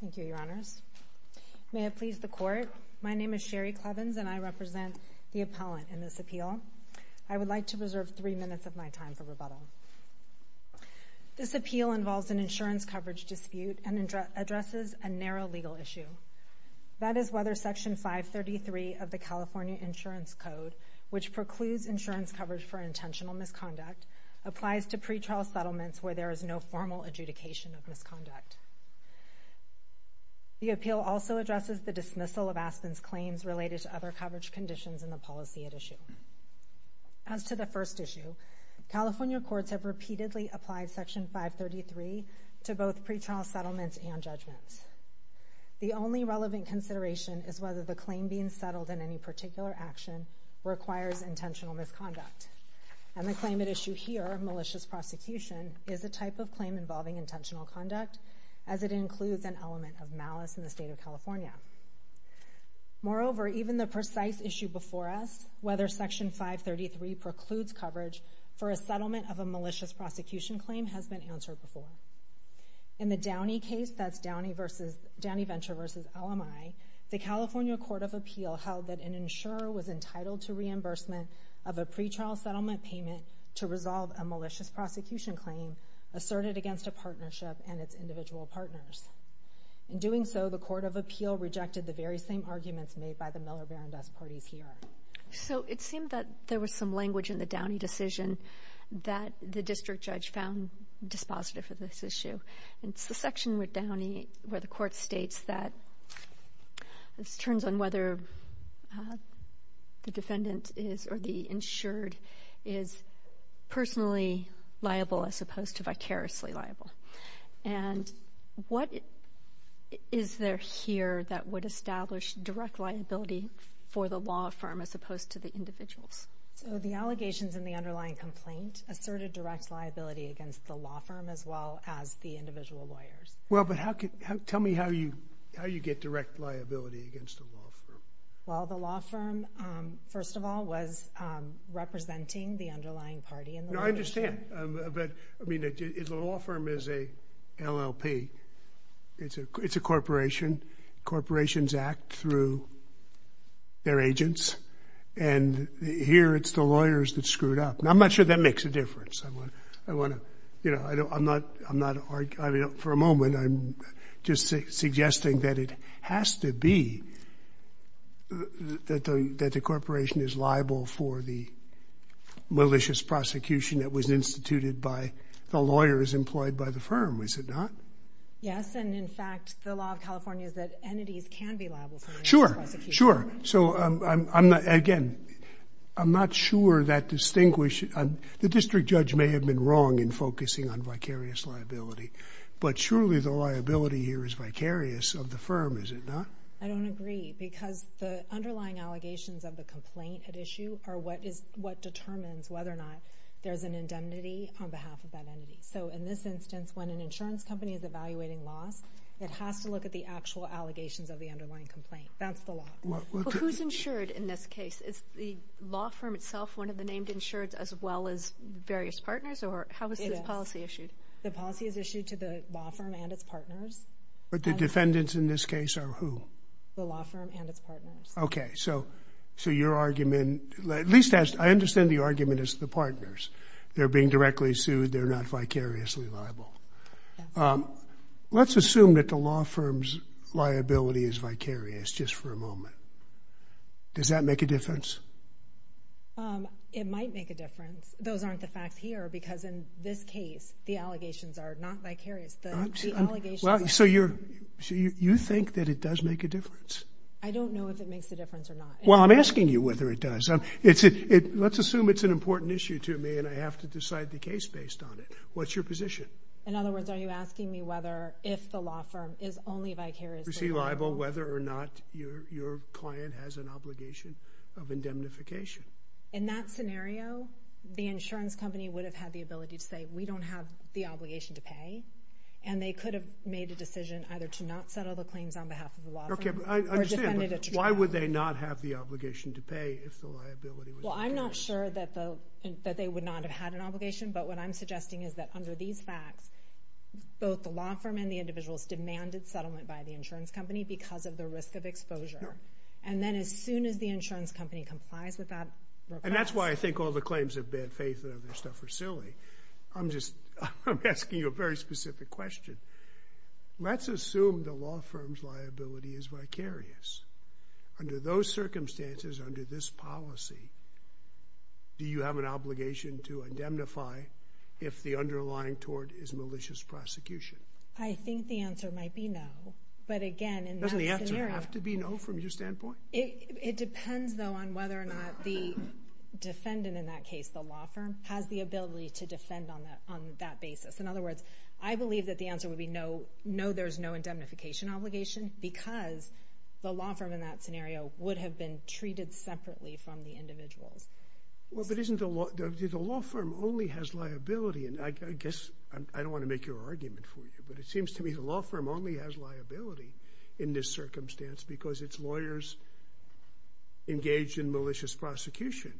Thank you, Your Honors. May it please the Court, my name is Sherry Clevens and I represent the appellant in this appeal. I would like to reserve three minutes of my time for rebuttal. This appeal involves an insurance coverage dispute and addresses a narrow legal issue. That is whether Section 533 of the California Insurance Code, which precludes insurance coverage for intentional misconduct, applies to pretrial settlements where there is no formal adjudication of misconduct. The appeal also addresses the dismissal of Aspen's claims related to other coverage conditions in the policy at issue. As to the first issue, California courts have repeatedly applied Section 533 to both pretrial settlements and judgments. The only relevant consideration is whether the claim being settled in any particular action requires intentional misconduct. And the claim at issue here, malicious prosecution, is a type of claim involving intentional conduct, as it includes an element of malice in the state of California. Moreover, even the precise issue before us, whether Section 533 precludes coverage for a settlement of a malicious prosecution claim, has been answered before. In the Downey case, that's Downey Venture v. LMI, the California Court of Appeal held that an insurer was entitled to reimbursement of a pretrial settlement payment to resolve a malicious prosecution claim asserted against a partnership and its individual partners. In doing so, the Court of Appeal rejected the very same arguments made by the Miller-VanDust parties here. So it seemed that there was some language in the Downey decision that the district judge found dispositive of this issue. It's the section with Downey where the court states that, this turns on whether the defendant is, or the insured, is personally liable as opposed to vicariously liable. And what is there here that would establish direct liability for the law firm as opposed to the individuals? So the allegations in the underlying complaint asserted direct liability against the law firm as well as the individual lawyers. Well, but how could, tell me how you, how you get direct liability against the law firm? Well, the law firm, first of all, was representing the underlying party in the litigation. No, I understand. But, I mean, the law firm is a LLP. It's a corporation. Corporations act through their agents. And here it's the lawyers that screwed up. And I'm not sure that makes a difference. I want to, you know, I don't, I'm not, I'm not arguing for a moment. I'm just suggesting that it has to be, that the corporation is liable for the malicious prosecution that was instituted by the lawyers employed by the firm. Is it not? Yes. And in fact, the law of California is that entities can be liable for malicious prosecution. Sure. So I'm not, again, I'm not sure that distinguish, the district judge may have been wrong in focusing on vicarious liability, but surely the liability here is vicarious of the firm. Is it not? I don't agree because the underlying allegations of the complaint at issue are what is, what determines whether or not there's an indemnity on behalf of that entity. So in this instance, when an insurance company is evaluating loss, it has to look at the actual allegations of the underlying complaint. That's the law. Who's insured in this case? Is the law firm itself one of the named insured as well as various partners or how was this policy issued? The policy is issued to the law firm and its partners. But the defendants in this case are who? The law firm and its partners. Okay. So, so your argument, at least as I understand the argument is the partners. They're being directly sued. They're not vicariously liable. Let's assume that the law firm's liability is vicarious just for a moment. Does that make a difference? It might make a difference. Those aren't the facts here because in this case, the allegations are not vicarious. So you're, so you think that it does make a difference? I don't know if it makes a difference or not. Well, I'm asking you whether it does. It's it, let's assume it's an important issue to me and I have to decide the case based on it. What's your position? In other words, are you asking me whether if the law firm is only vicariously liable? Vicariously liable, whether or not your, your client has an obligation of indemnification. In that scenario, the insurance company would have had the ability to say, we don't have the obligation to pay. And they could have made a decision either to not settle the claims on behalf of the law firm. Okay, but I understand. Or defended it. Why would they not have the obligation to pay if the liability was vicarious? Well, I'm not sure that the, that they would not have had an obligation. But what I'm suggesting is that under these facts, both the law firm and the individuals demanded settlement by the insurance company because of the risk of exposure. And then as soon as the insurance company complies with that request. And that's why I think all the claims of bad faith and other stuff are silly. I'm just, I'm asking you a very specific question. Let's assume the law firm's liability is vicarious. Under those circumstances, under this policy, do you have an obligation to indemnify if the underlying tort is malicious prosecution? I think the answer might be no. But again, in that scenario. Doesn't the answer have to be no from your standpoint? It depends though on whether or not the defendant in that case, the law firm, has the ability to defend on that basis. In other words, I believe that the answer would be no, no, there's no indemnification obligation because the law firm in that scenario would have been treated separately from the individuals. Well, but isn't the law, the law firm only has liability. And I guess, I don't want to make your argument for you, but it seems to me the law firm only has liability in this circumstance because it's lawyers engaged in malicious prosecution.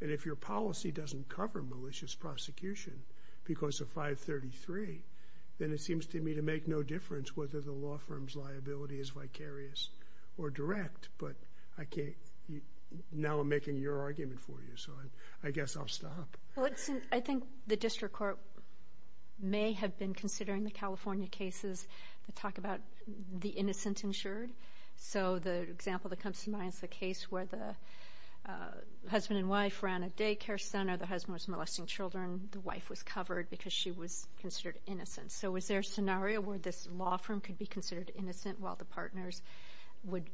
And if your policy doesn't cover malicious prosecution because of 533, then it seems to me to make no difference whether the law firm's liability is vicarious or direct. But I can't, now I'm making your argument for you, so I guess I'll stop. Well, it seems, I think the district court may have been considering the California cases that talk about the innocent insured. So the example that comes to mind is the case where the husband and wife ran a daycare center, the husband was molesting children, the wife was covered because she was considered innocent. So is there a scenario where this law firm could be considered innocent while the partners would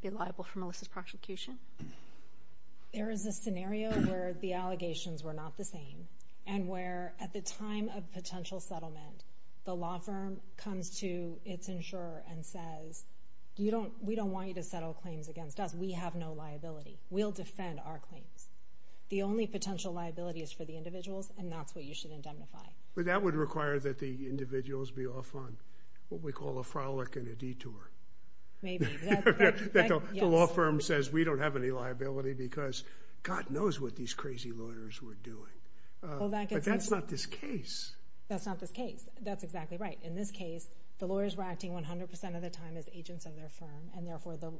be liable for malicious prosecution? There is a scenario where the allegations were not the same, and where at the time of potential settlement, the law firm comes to its insurer and says, we don't want you to settle claims against us, we have no liability, we'll defend our claims. The only potential liability is for the individuals, and that's what you should indemnify. But that would require that the individuals be off on what we call a frolic and a detour. Maybe. The law firm says we don't have any liability because God knows what these crazy lawyers were doing. But that's not this case. That's not this case. That's exactly right. In this case, the lawyers were acting 100% of the time as agents of their firm, and therefore the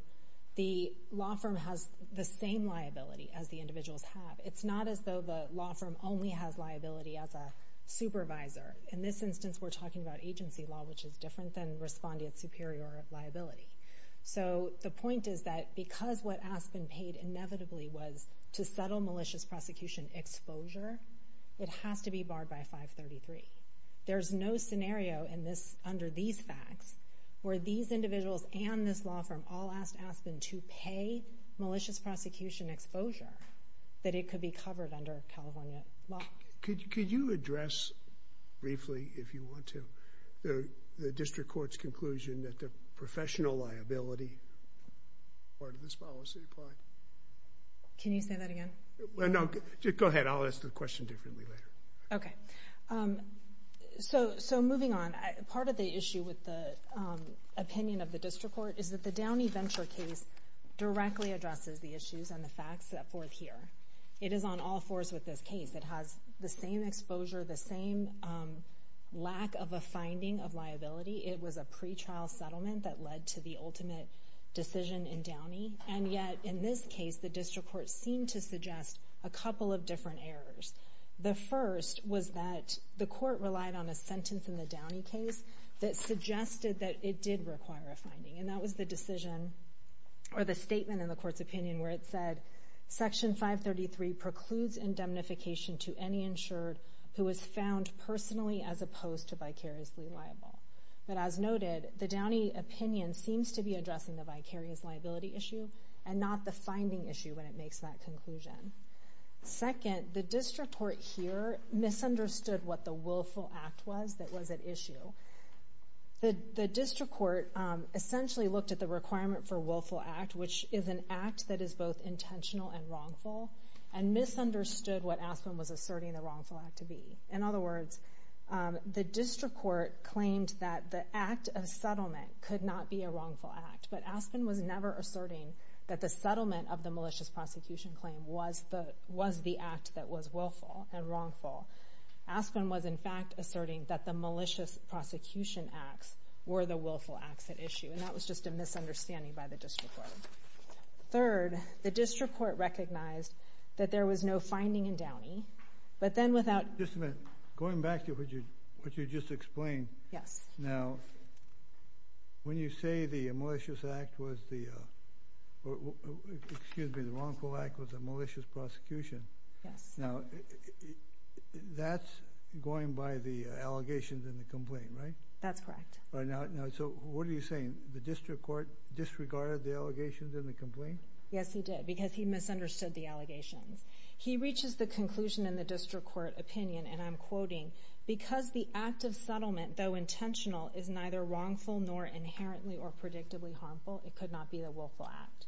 law firm has the same liability as the individuals have. It's not as though the law firm only has liability as a supervisor. In this instance, we're talking about agency law, which is different than responding at liability. So, the point is that because what Aspen paid inevitably was to settle malicious prosecution exposure, it has to be barred by 533. There's no scenario under these facts where these individuals and this law firm all asked Aspen to pay malicious prosecution exposure that it could be covered under California law. Could you address briefly, if you want to, the district court's conclusion that the professional liability part of this policy apply? Can you say that again? No. Go ahead. I'll ask the question differently later. Okay. So, moving on, part of the issue with the opinion of the district court is that the Downey Venture case directly addresses the issues and the facts that forth here. It is on all fours with this case. It has the same exposure, the same lack of a finding of liability. It was a pretrial settlement that led to the ultimate decision in Downey. And yet, in this case, the district court seemed to suggest a couple of different errors. The first was that the court relied on a sentence in the Downey case that suggested that it did require a finding. And that was the decision or the statement in the court's opinion where it said, Section 533 precludes indemnification to any insured who is found personally as opposed to vicariously liable. But as noted, the Downey opinion seems to be addressing the vicarious liability issue and not the finding issue when it makes that conclusion. Second, the district court here misunderstood what the Willful Act was that was at issue. The district court essentially looked at the requirement for Willful Act, which is an act that is both intentional and wrongful, and misunderstood what Aspen was asserting the Wrongful Act to be. In other words, the district court claimed that the act of settlement could not be a Wrongful Act, but Aspen was never asserting that the settlement of the malicious prosecution claim was the act that was willful and wrongful. Aspen was, in fact, asserting that the malicious prosecution acts were the Willful Acts at issue. And that was just a misunderstanding by the district court. Third, the district court recognized that there was no finding in Downey, but then without... Just a minute. Going back to what you just explained... Yes. Now, when you say the Wrongful Act was a malicious prosecution... Yes. Now, that's going by the allegations in the complaint, right? That's correct. So, what are you saying? The district court disregarded the allegations in the complaint? Yes, he did, because he misunderstood the allegations. He reaches the conclusion in the district court opinion, and I'm quoting, because the act of settlement, though intentional, is neither wrongful nor inherently or predictably harmful, it could not be the Willful Act.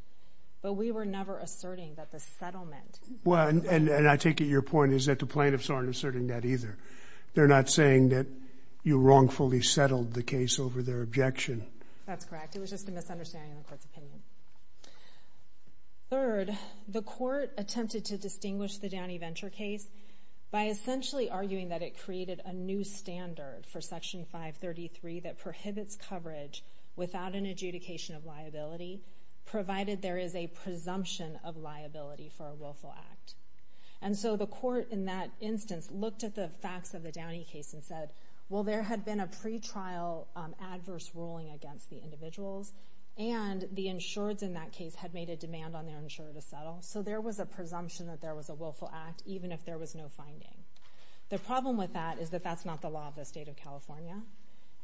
But we were never asserting that the settlement... Well, and I take it your point is that the plaintiffs aren't asserting that either. They're not saying that you wrongfully settled the case over their objection. That's correct. It was just a misunderstanding in the court's opinion. Third, the court attempted to distinguish the Downey Venture case by essentially arguing that it created a new standard for Section 533 that prohibits coverage without an adjudication of liability, provided there is a presumption of liability for a Willful Act. And so, the court then said, well, there had been a pretrial adverse ruling against the individuals, and the insureds in that case had made a demand on their insurer to settle, so there was a presumption that there was a Willful Act, even if there was no finding. The problem with that is that that's not the law of the state of California.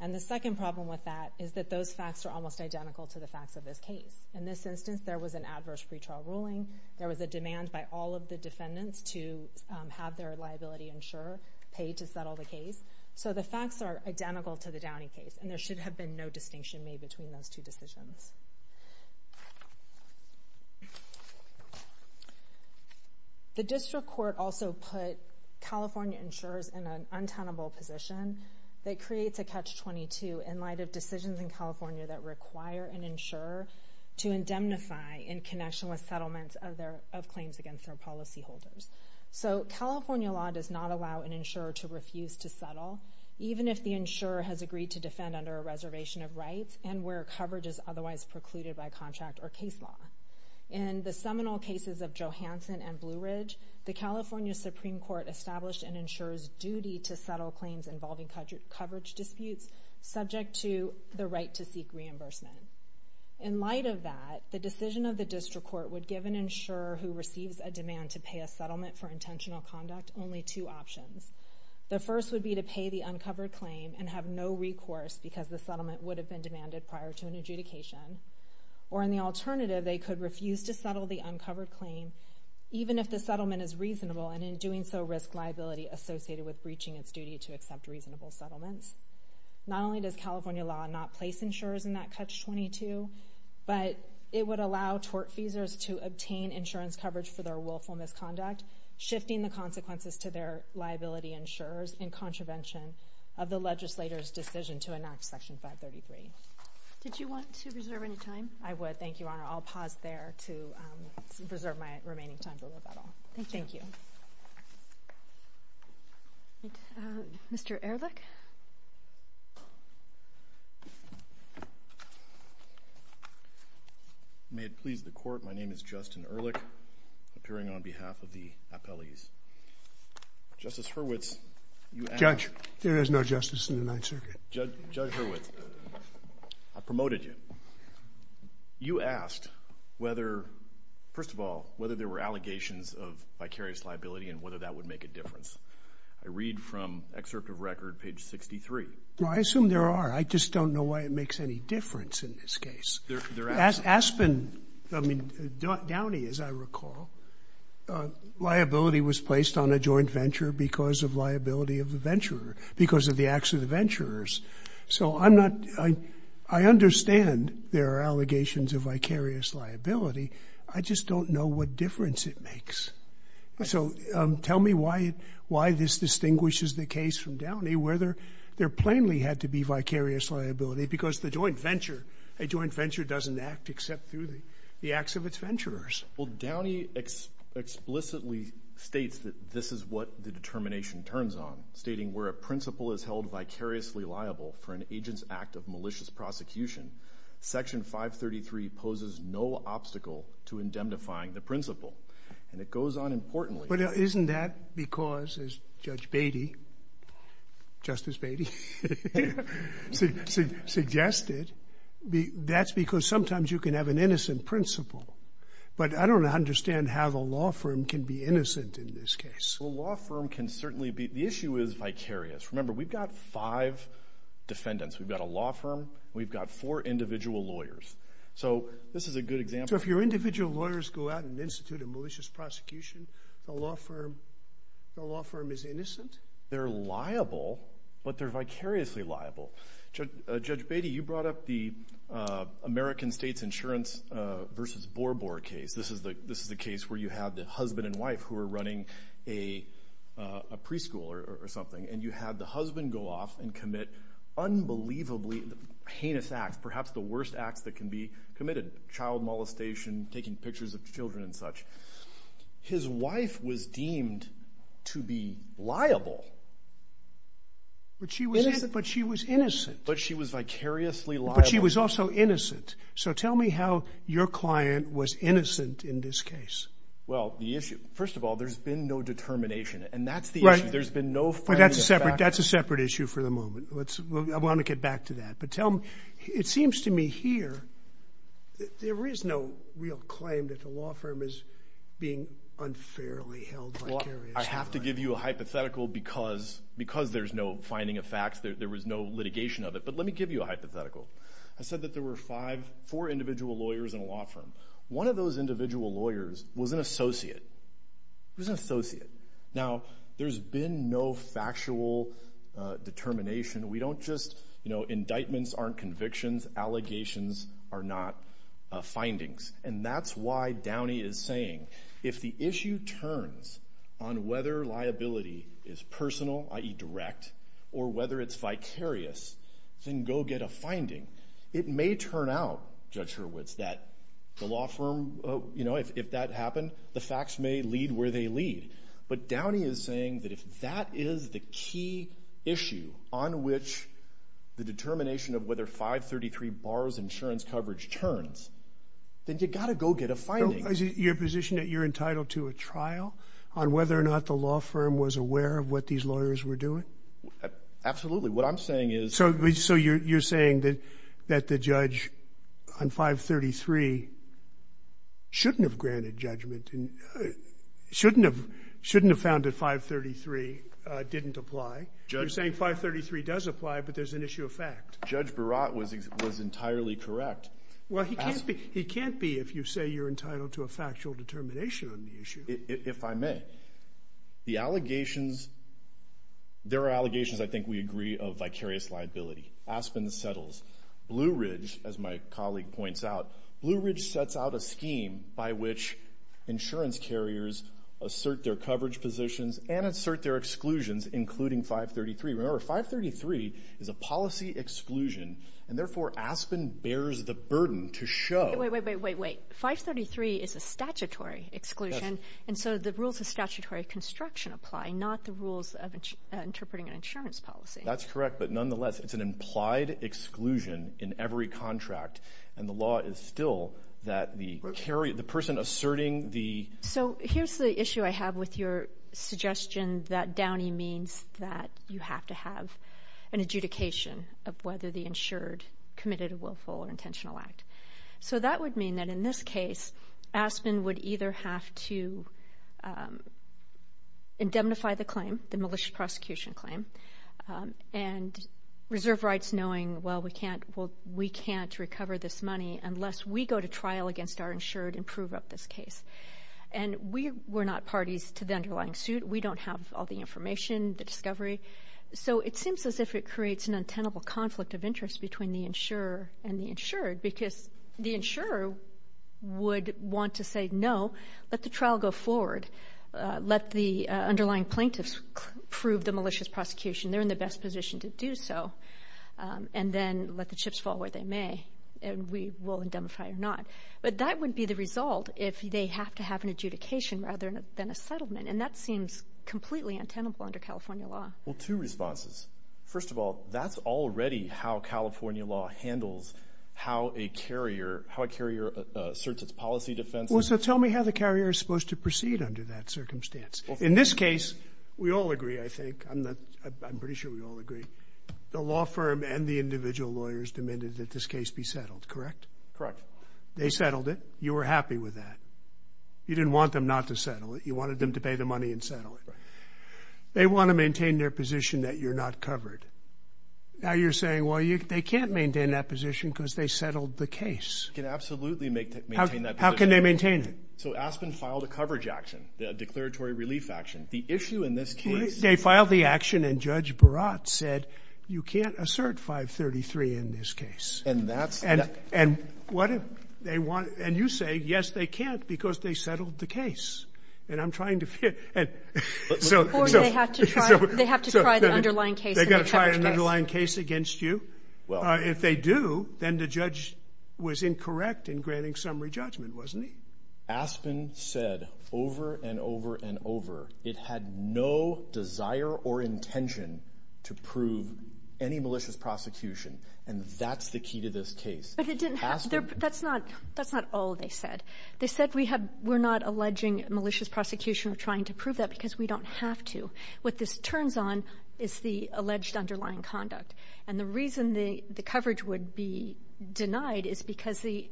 And the second problem with that is that those facts are almost identical to the facts of this case. In this instance, there was an adverse pretrial ruling. There was a demand by all of the defendants to have their liability insurer pay to settle the case. So the facts are identical to the Downey case, and there should have been no distinction made between those two decisions. The district court also put California insurers in an untenable position that creates a catch-22 in light of decisions in California that require an insurer to indemnify in connection with California law does not allow an insurer to refuse to settle, even if the insurer has agreed to defend under a reservation of rights and where coverage is otherwise precluded by contract or case law. In the seminal cases of Johansson and Blue Ridge, the California Supreme Court established an insurer's duty to settle claims involving coverage disputes subject to the right to seek reimbursement. In light of that, the decision of the district court would give an insurer who receives a demand to pay a settlement for intentional conduct only two options. The first would be to pay the uncovered claim and have no recourse because the settlement would have been demanded prior to an adjudication. Or in the alternative, they could refuse to settle the uncovered claim, even if the settlement is reasonable and in doing so risk liability associated with breaching its duty to accept reasonable settlements. Not only does California law not place insurers in that catch-22, but it would allow tortfeasors to obtain insurance coverage for their willful misconduct, shifting the consequences to their liability insurers in contravention of the legislator's decision to enact Section 533. Did you want to reserve any time? I would. Thank you, Your Honor. I'll pause there to preserve my remaining time for rebuttal. Thank you. Mr. Ehrlich? May it please the Court, my name is Justin Ehrlich, appearing on behalf of the appellees. Justice Hurwitz, you asked... Judge, there is no justice in the Ninth Circuit. Judge Hurwitz, I promoted you. You asked whether, first of all, whether there were allegations of vicarious liability and whether that would make a difference. I read from excerpt of record, page 63. I assume there are. I just don't know why it makes any difference in this case. There are. Aspen, I mean, Downey, as I recall, liability was placed on a joint venture because of liability of the venturer, because of the acts of the venturers. So I'm not, I understand there are allegations of vicarious liability. I just don't know what difference it makes. So tell me why this distinguishes the case from Downey, whether there plainly had to be vicarious liability, because the joint venture, a joint venture doesn't act except through the acts of its venturers. Well, Downey explicitly states that this is what the determination turns on, stating where a principle is held vicariously liable for an agent's act of malicious prosecution, Section 533 poses no obstacle to indemnifying the principle. And it goes on importantly... But isn't that because, as Judge Beatty, Justice Beatty, suggested, that's because sometimes you can have an innocent principle. But I don't understand how the law firm can be innocent in this case. The law firm can certainly be. The issue is vicarious. Remember, we've got five defendants. We've got a law firm. We've got four individual lawyers. So this is a good example... So if your individual lawyers go out and institute a malicious prosecution, the law firm, the law firm is innocent? They're liable, but they're vicariously liable. Judge Beatty, you brought up the American States Insurance versus Borbor case. This is the case where you have the husband and wife who are running a preschool or something, and you have the husband go off and commit unbelievably heinous acts, perhaps the worst acts that can be committed, child molestation, taking pictures of children and such. His wife was deemed to be liable. But she was innocent. But she was vicariously liable. But she was also innocent. So tell me how your client was innocent in this case. Well, the issue... First of all, there's been no determination, and that's the issue. There's been no finding of facts. That's a separate issue for the moment. I want to get back to that. But it seems to me here that there is no real claim that the law firm is being unfairly held vicariously. Well, I have to give you a hypothetical because there's no finding of facts, there was no litigation of it. But let me give you a hypothetical. I said that there were four individual lawyers in a law firm. One of those individual lawyers was an associate. He was an associate. Now, there's been no factual determination. We don't just... Indictments aren't convictions. Allegations are not findings. And that's why Downey is saying, if the issue turns on whether liability is personal, i.e. direct, or whether it's vicarious, then go get a finding. It may turn out, Judge Hurwitz, that the law firm... If that happened, the facts may lead to where they lead. But Downey is saying that if that is the key issue on which the determination of whether 533 borrows insurance coverage turns, then you've got to go get a finding. Is it your position that you're entitled to a trial on whether or not the law firm was aware of what these lawyers were doing? Absolutely. What I'm saying is... So you're saying that the judge on 533 shouldn't have granted judgment, shouldn't have found that 533 didn't apply. You're saying 533 does apply, but there's an issue of fact. Judge Burrott was entirely correct. Well, he can't be if you say you're entitled to a factual determination on the issue. If I may, the allegations... There are allegations, I think we agree, of vicarious liability. Aspen settles. Blue Ridge, as my colleague points out, Blue Ridge sets out a scheme by which insurance carriers assert their coverage positions and assert their exclusions, including 533. Remember, 533 is a policy exclusion, and therefore Aspen bears the burden to show... Wait, wait, wait, wait, wait. 533 is a statutory exclusion, and so the rules of statutory construction apply, not the rules of interpreting an insurance policy. That's correct, but nonetheless, it's an implied exclusion in every contract, and the law is still that the person asserting the... So here's the issue I have with your suggestion that Downey means that you have to have an exemption, and that would mean that in this case, Aspen would either have to indemnify the claim, the malicious prosecution claim, and reserve rights knowing, well, we can't recover this money unless we go to trial against our insured and prove up this case. And we're not parties to the underlying suit. We don't have all the information, the discovery, so it seems as if it creates an untenable conflict of interest between the insurer and the insured, because the insurer would want to say, no, let the trial go forward. Let the underlying plaintiffs prove the malicious prosecution. They're in the best position to do so. And then let the chips fall where they may, and we will indemnify or not. But that would be the result if they have to have an adjudication rather than a settlement, and that seems completely untenable under California law. Well, two responses. First of all, that's already how California law handles how a carrier asserts its policy defense. Well, so tell me how the carrier is supposed to proceed under that circumstance. In this case, we all agree, I think. I'm pretty sure we all agree. The law firm and the individual lawyers demanded that this case be settled, correct? Correct. They settled it. You were happy with that. You didn't want them not to settle it. You wanted them to pay the money and settle it. They want to maintain their position that you're not covered. Now you're saying, well, they can't maintain that position because they settled the case. They can absolutely maintain that position. How can they maintain it? So Aspen filed a coverage action, a declaratory relief action. The issue in this case is that They filed the action, and Judge Barat said, you can't assert 533 in this case. And that's Or they have to try the underlying case. They've got to try an underlying case against you. If they do, then the judge was incorrect in granting summary judgment, wasn't he? Aspen said over and over and over, it had no desire or intention to prove any malicious prosecution. And that's the key to this case. That's not all they said. They said we're not alleging malicious prosecution or trying to prove that because we don't have to. What this turns on is the alleged underlying conduct. And the reason the coverage would be denied is because the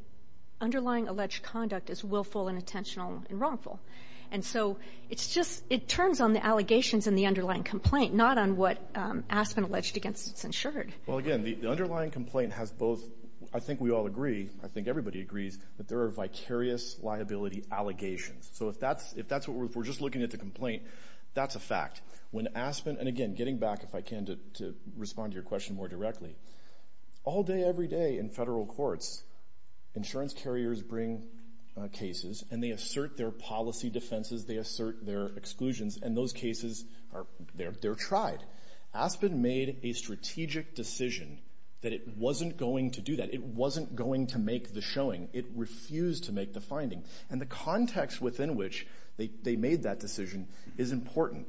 underlying alleged conduct is willful and intentional and wrongful. And so it turns on the allegations in the underlying complaint, not on what Aspen alleged against its insured. Well, again, the underlying complaint has both. I think we all agree. I think everybody agrees that there are vicarious liability allegations. So if that's if that's what we're just looking at the complaint, that's a fact. When Aspen and again, getting back, if I can, to respond to your question more directly. All day, every day in federal courts, insurance carriers bring cases and they assert their policy defenses. They assert their exclusions and those cases are there. They're tried. Aspen made a strategic decision that it wasn't going to do that. It wasn't going to make the showing. It refused to make the finding. And the context within which they made that decision is important.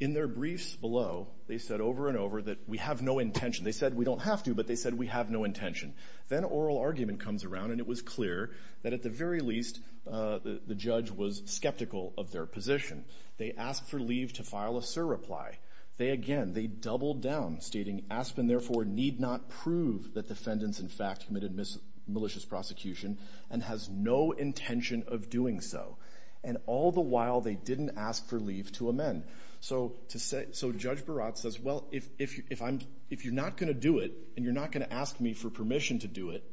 In their briefs below, they said over and over that we have no intention. They said we don't have to, but they said we have no intention. Then oral argument comes around and it was clear that at the very least the judge was skeptical of their position. They asked for leave to file a surreply. They again, they doubled down stating Aspen therefore need not prove that defendants in fact committed malicious prosecution and has no intention of doing so. And all the while they didn't ask for leave to amend. So to say, so Judge Barat says, well, if you're not going to do it and you're not going to ask me for permission to do it.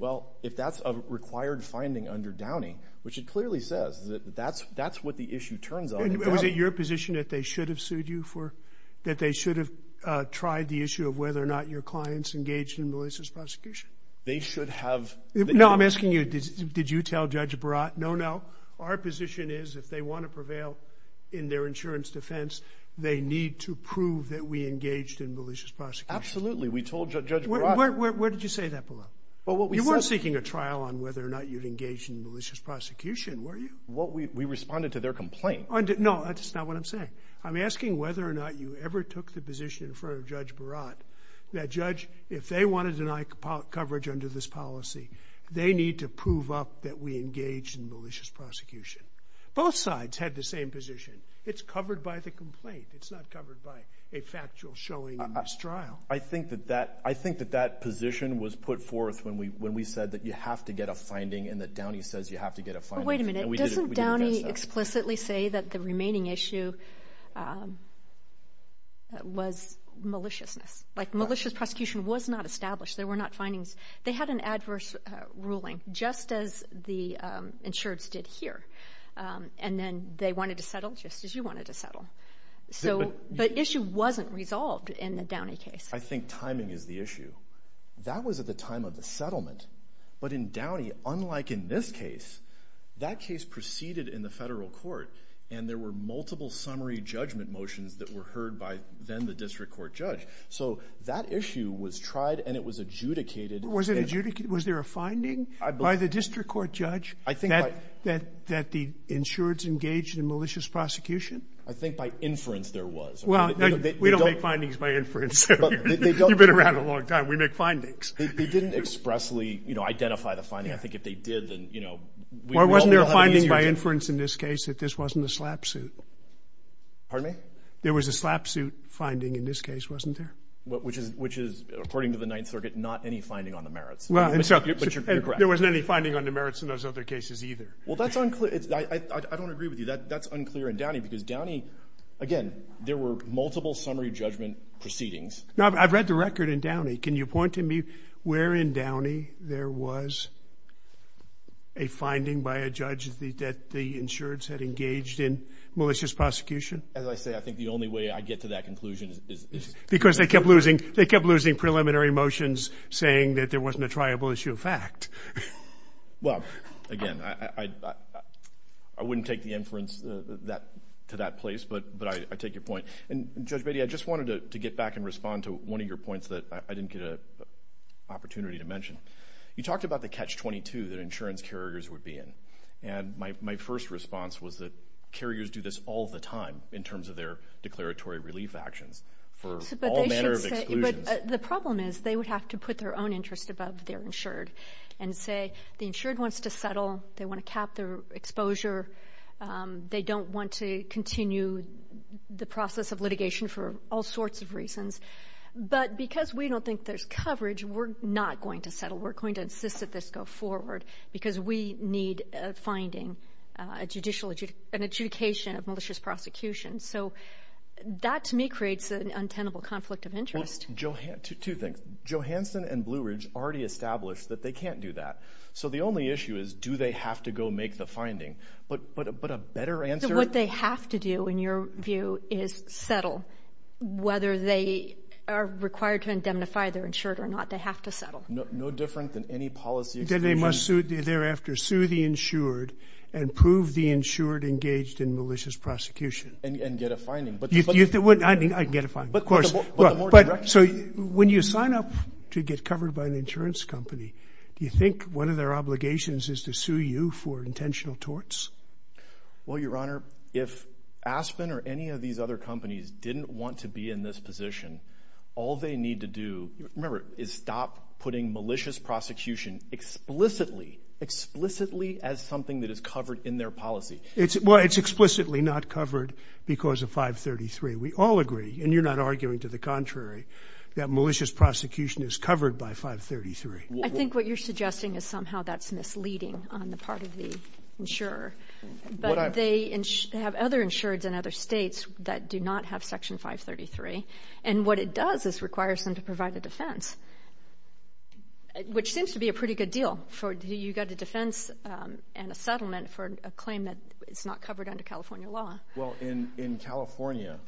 Well, if that's a required finding under Downing, which it clearly says that that's what the issue turns on. Was it your position that they should have sued you for, that they should have tried the issue of whether or not your clients engaged in malicious prosecution? They should have. No, I'm asking you, did you tell Judge Barat? No, no. Our position is if they want to prevail in their insurance defense, they need to prove that we engaged in malicious prosecution. Absolutely. We told Judge Barat. Where did you say that below? You weren't seeking a trial on whether or not you'd engage in malicious prosecution, were you? We responded to their complaint. No, that's not what I'm saying. I'm asking whether or not you ever took the position in front of Judge Barat that judge, if they want to deny coverage under this policy, they need to prove up that we engaged in malicious prosecution. Both sides had the same position. It's covered by the complaint. It's not covered by a factual showing in this trial. I think that that position was put forth when we said that you have to get a finding and that Downey says you have to get a finding. Wait a minute. Doesn't Downey explicitly say that the remaining issue was maliciousness? Malicious prosecution was not established. There were not findings. They had an adverse ruling, just as the insureds did here, and then they wanted to settle just as you wanted to settle. But issue wasn't resolved in the Downey case. I think timing is the issue. That was at the time of the settlement. But in Downey, unlike in this case, that case proceeded in the federal court, and there were multiple summary judgment motions that were heard by then the district court judge. So that issue was tried, and it was adjudicated. Was it adjudicated? Was there a finding by the district court judge that the insureds engaged in malicious prosecution? I think by inference there was. Well, we don't make findings by inference. You've been around a long time. We make findings. They didn't expressly, you know, identify the finding. I think if they did, then, you know. Wasn't there a finding by inference in this case that this wasn't a slap suit? Pardon me? There was a slap suit finding in this case, wasn't there? Which is, according to the Ninth Circuit, not any finding on the merits. There wasn't any finding on the merits in those other cases either. Well, that's unclear. I don't agree with you. That's unclear in Downey because Downey, again, there were multiple summary judgment proceedings. I've read the record in Downey. Can you point to me where in Downey there was a finding by a judge that the insureds had engaged in malicious prosecution? As I say, I think the only way I get to that conclusion is... Because they kept losing preliminary motions saying that there wasn't a triable issue of fact. Well, again, I wouldn't take the inference to that place, but I take your point. And Judge Beatty, I just wanted to get back and respond to one of your points that I didn't get an opportunity to mention. You talked about the catch-22 that insurance carriers would be in. And my first response was that carriers do this all the time in terms of their declaratory relief actions for all manner of exclusions. But the problem is they would have to put their own interest above their insured and say the insured wants to settle. They want to cap their exposure. They don't want to continue the process of litigation for all sorts of reasons. But because we don't think there's coverage, we're not going to settle. We're going to insist that this go forward because we need a finding, an adjudication of malicious prosecution. So that, to me, creates an untenable conflict of interest. Two things. Johansson and Blue Ridge already established that they can't do that. So the only issue is do they have to go make the finding. But a better answer... What they have to do, in your view, is settle. Whether they are required to indemnify their insured or not, they have to settle. No different than any policy exclusion. You said they must thereafter sue the insured and prove the insured engaged in malicious prosecution. And get a finding. I can get a finding, of course. But the more direction... So when you sign up to get covered by an insurance company, do you think one of their obligations is to sue you for intentional torts? Well, Your Honor, if Aspen or any of these other companies didn't want to be in this position, all they need to do, remember, is stop putting malicious prosecution explicitly, explicitly as something that is covered in their policy. Well, it's explicitly not covered because of 533. We all agree, and you're not arguing to the contrary, that malicious prosecution is covered by 533. I think what you're suggesting is somehow that's misleading on the part of the insurer. But they have other insureds in other states that do not have Section 533. And what it does is requires them to provide a defense, which seems to be a pretty good deal. You've got a defense and a settlement for a claim that is not covered under California law. Well, in California,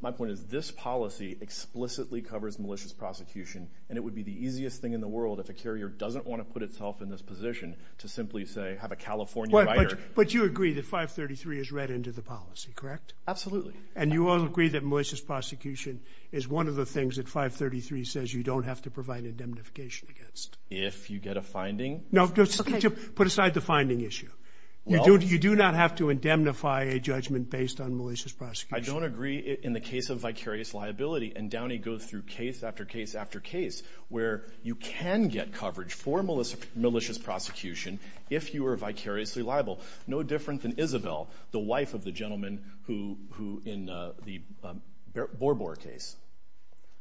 my point is this policy explicitly covers malicious prosecution. And it would be the easiest thing in the world if a carrier doesn't want to put itself in this position to simply, say, have a California writer. But you agree that 533 is read into the policy, correct? Absolutely. And you all agree that malicious prosecution is one of the things that 533 says you don't have to provide indemnification against. If you get a finding? No, put aside the finding issue. You do not have to indemnify a judgment based on malicious prosecution. I don't agree. In the case of vicarious liability, and Downey goes through case after case after case, where you can get coverage for malicious prosecution if you are vicariously liable, no different than Isabel, the wife of the gentleman who in the Borbor case.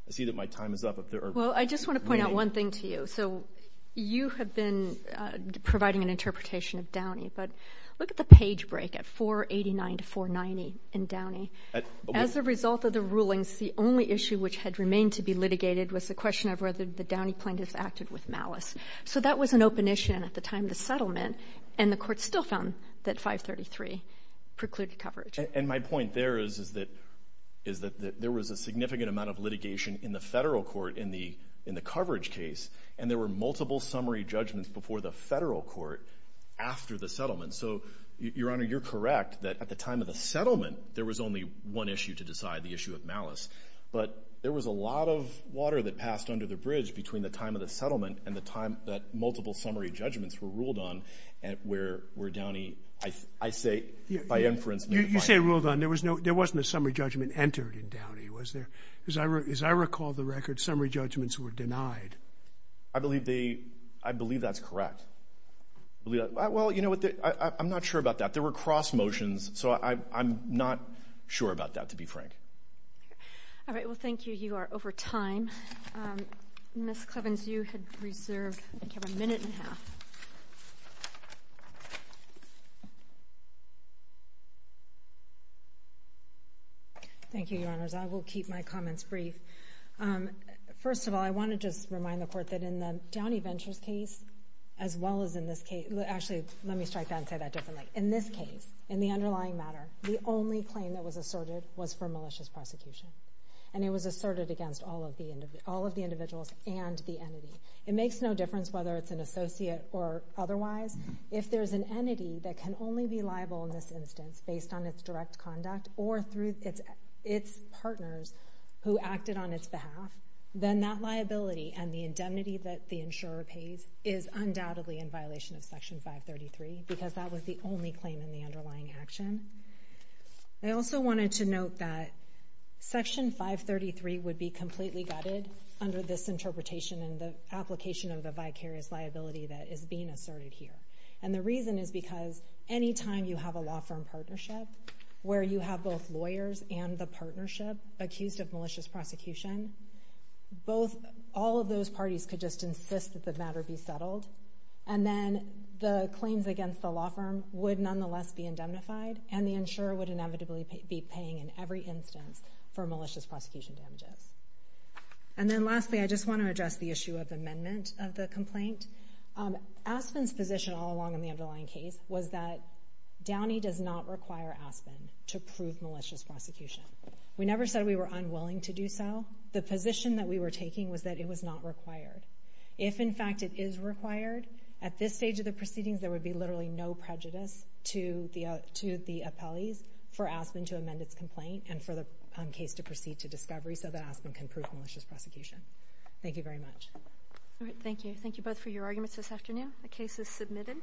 I see that my time is up. Well, I just want to point out one thing to you. So you have been providing an interpretation of Downey, but look at the page break at 489 to 490 in Downey. As a result of the rulings, the only issue which had remained to be litigated was the question of whether the Downey plaintiffs acted with malice. So that was an open issue at the time of the settlement, and the court still found that 533 precluded coverage. And my point there is that there was a significant amount of litigation in the federal court in the coverage case, and there were multiple summary judgments before the federal court after the settlement. So, Your Honor, you're correct that at the time of the settlement there was only one issue to decide, the issue of malice. But there was a lot of water that passed under the bridge between the time of the settlement and the time that multiple summary judgments were ruled on, where Downey, I say by inference, made a fine judgment. You say ruled on. There wasn't a summary judgment entered in Downey, was there? As I recall the record, summary judgments were denied. I believe that's correct. Well, you know what, I'm not sure about that. There were cross motions, so I'm not sure about that, to be frank. All right, well, thank you. You are over time. Ms. Clevens, you had reserved a minute and a half. Thank you, Your Honors. I will keep my comments brief. First of all, I want to just remind the Court that in the Downey Ventures case, as well as in this case—actually, let me strike that and say that differently. In this case, in the underlying matter, the only claim that was asserted was for malicious prosecution, and it was asserted against all of the individuals and the entity. It makes no difference whether it's an associate or otherwise. If there's an entity that can only be liable in this instance based on its direct conduct or through its partners who acted on its behalf, then that liability and the indemnity that the insurer pays is undoubtedly in violation of Section 533, because that was the only claim in the underlying action. I also wanted to note that Section 533 would be completely gutted under this interpretation and the application of the vicarious liability that is being asserted here. And the reason is because anytime you have a law firm partnership where you have both lawyers and the partnership accused of malicious prosecution, all of those parties could just insist that the matter be settled, and then the claims against the law firm would nonetheless be indemnified, and the insurer would inevitably be paying in every instance for malicious prosecution damages. And then lastly, I just want to address the issue of amendment of the complaint. Aspen's position all along in the underlying case was that Downey does not require Aspen to prove malicious prosecution. We never said we were unwilling to do so. The position that we were taking was that it was not required. If, in fact, it is required, at this stage of the proceedings, there would be literally no prejudice to the appellees for Aspen to amend its complaint and for the case to proceed to discovery so that Aspen can prove malicious prosecution. Thank you very much. Thank you. Thank you both for your arguments this afternoon. The case is submitted.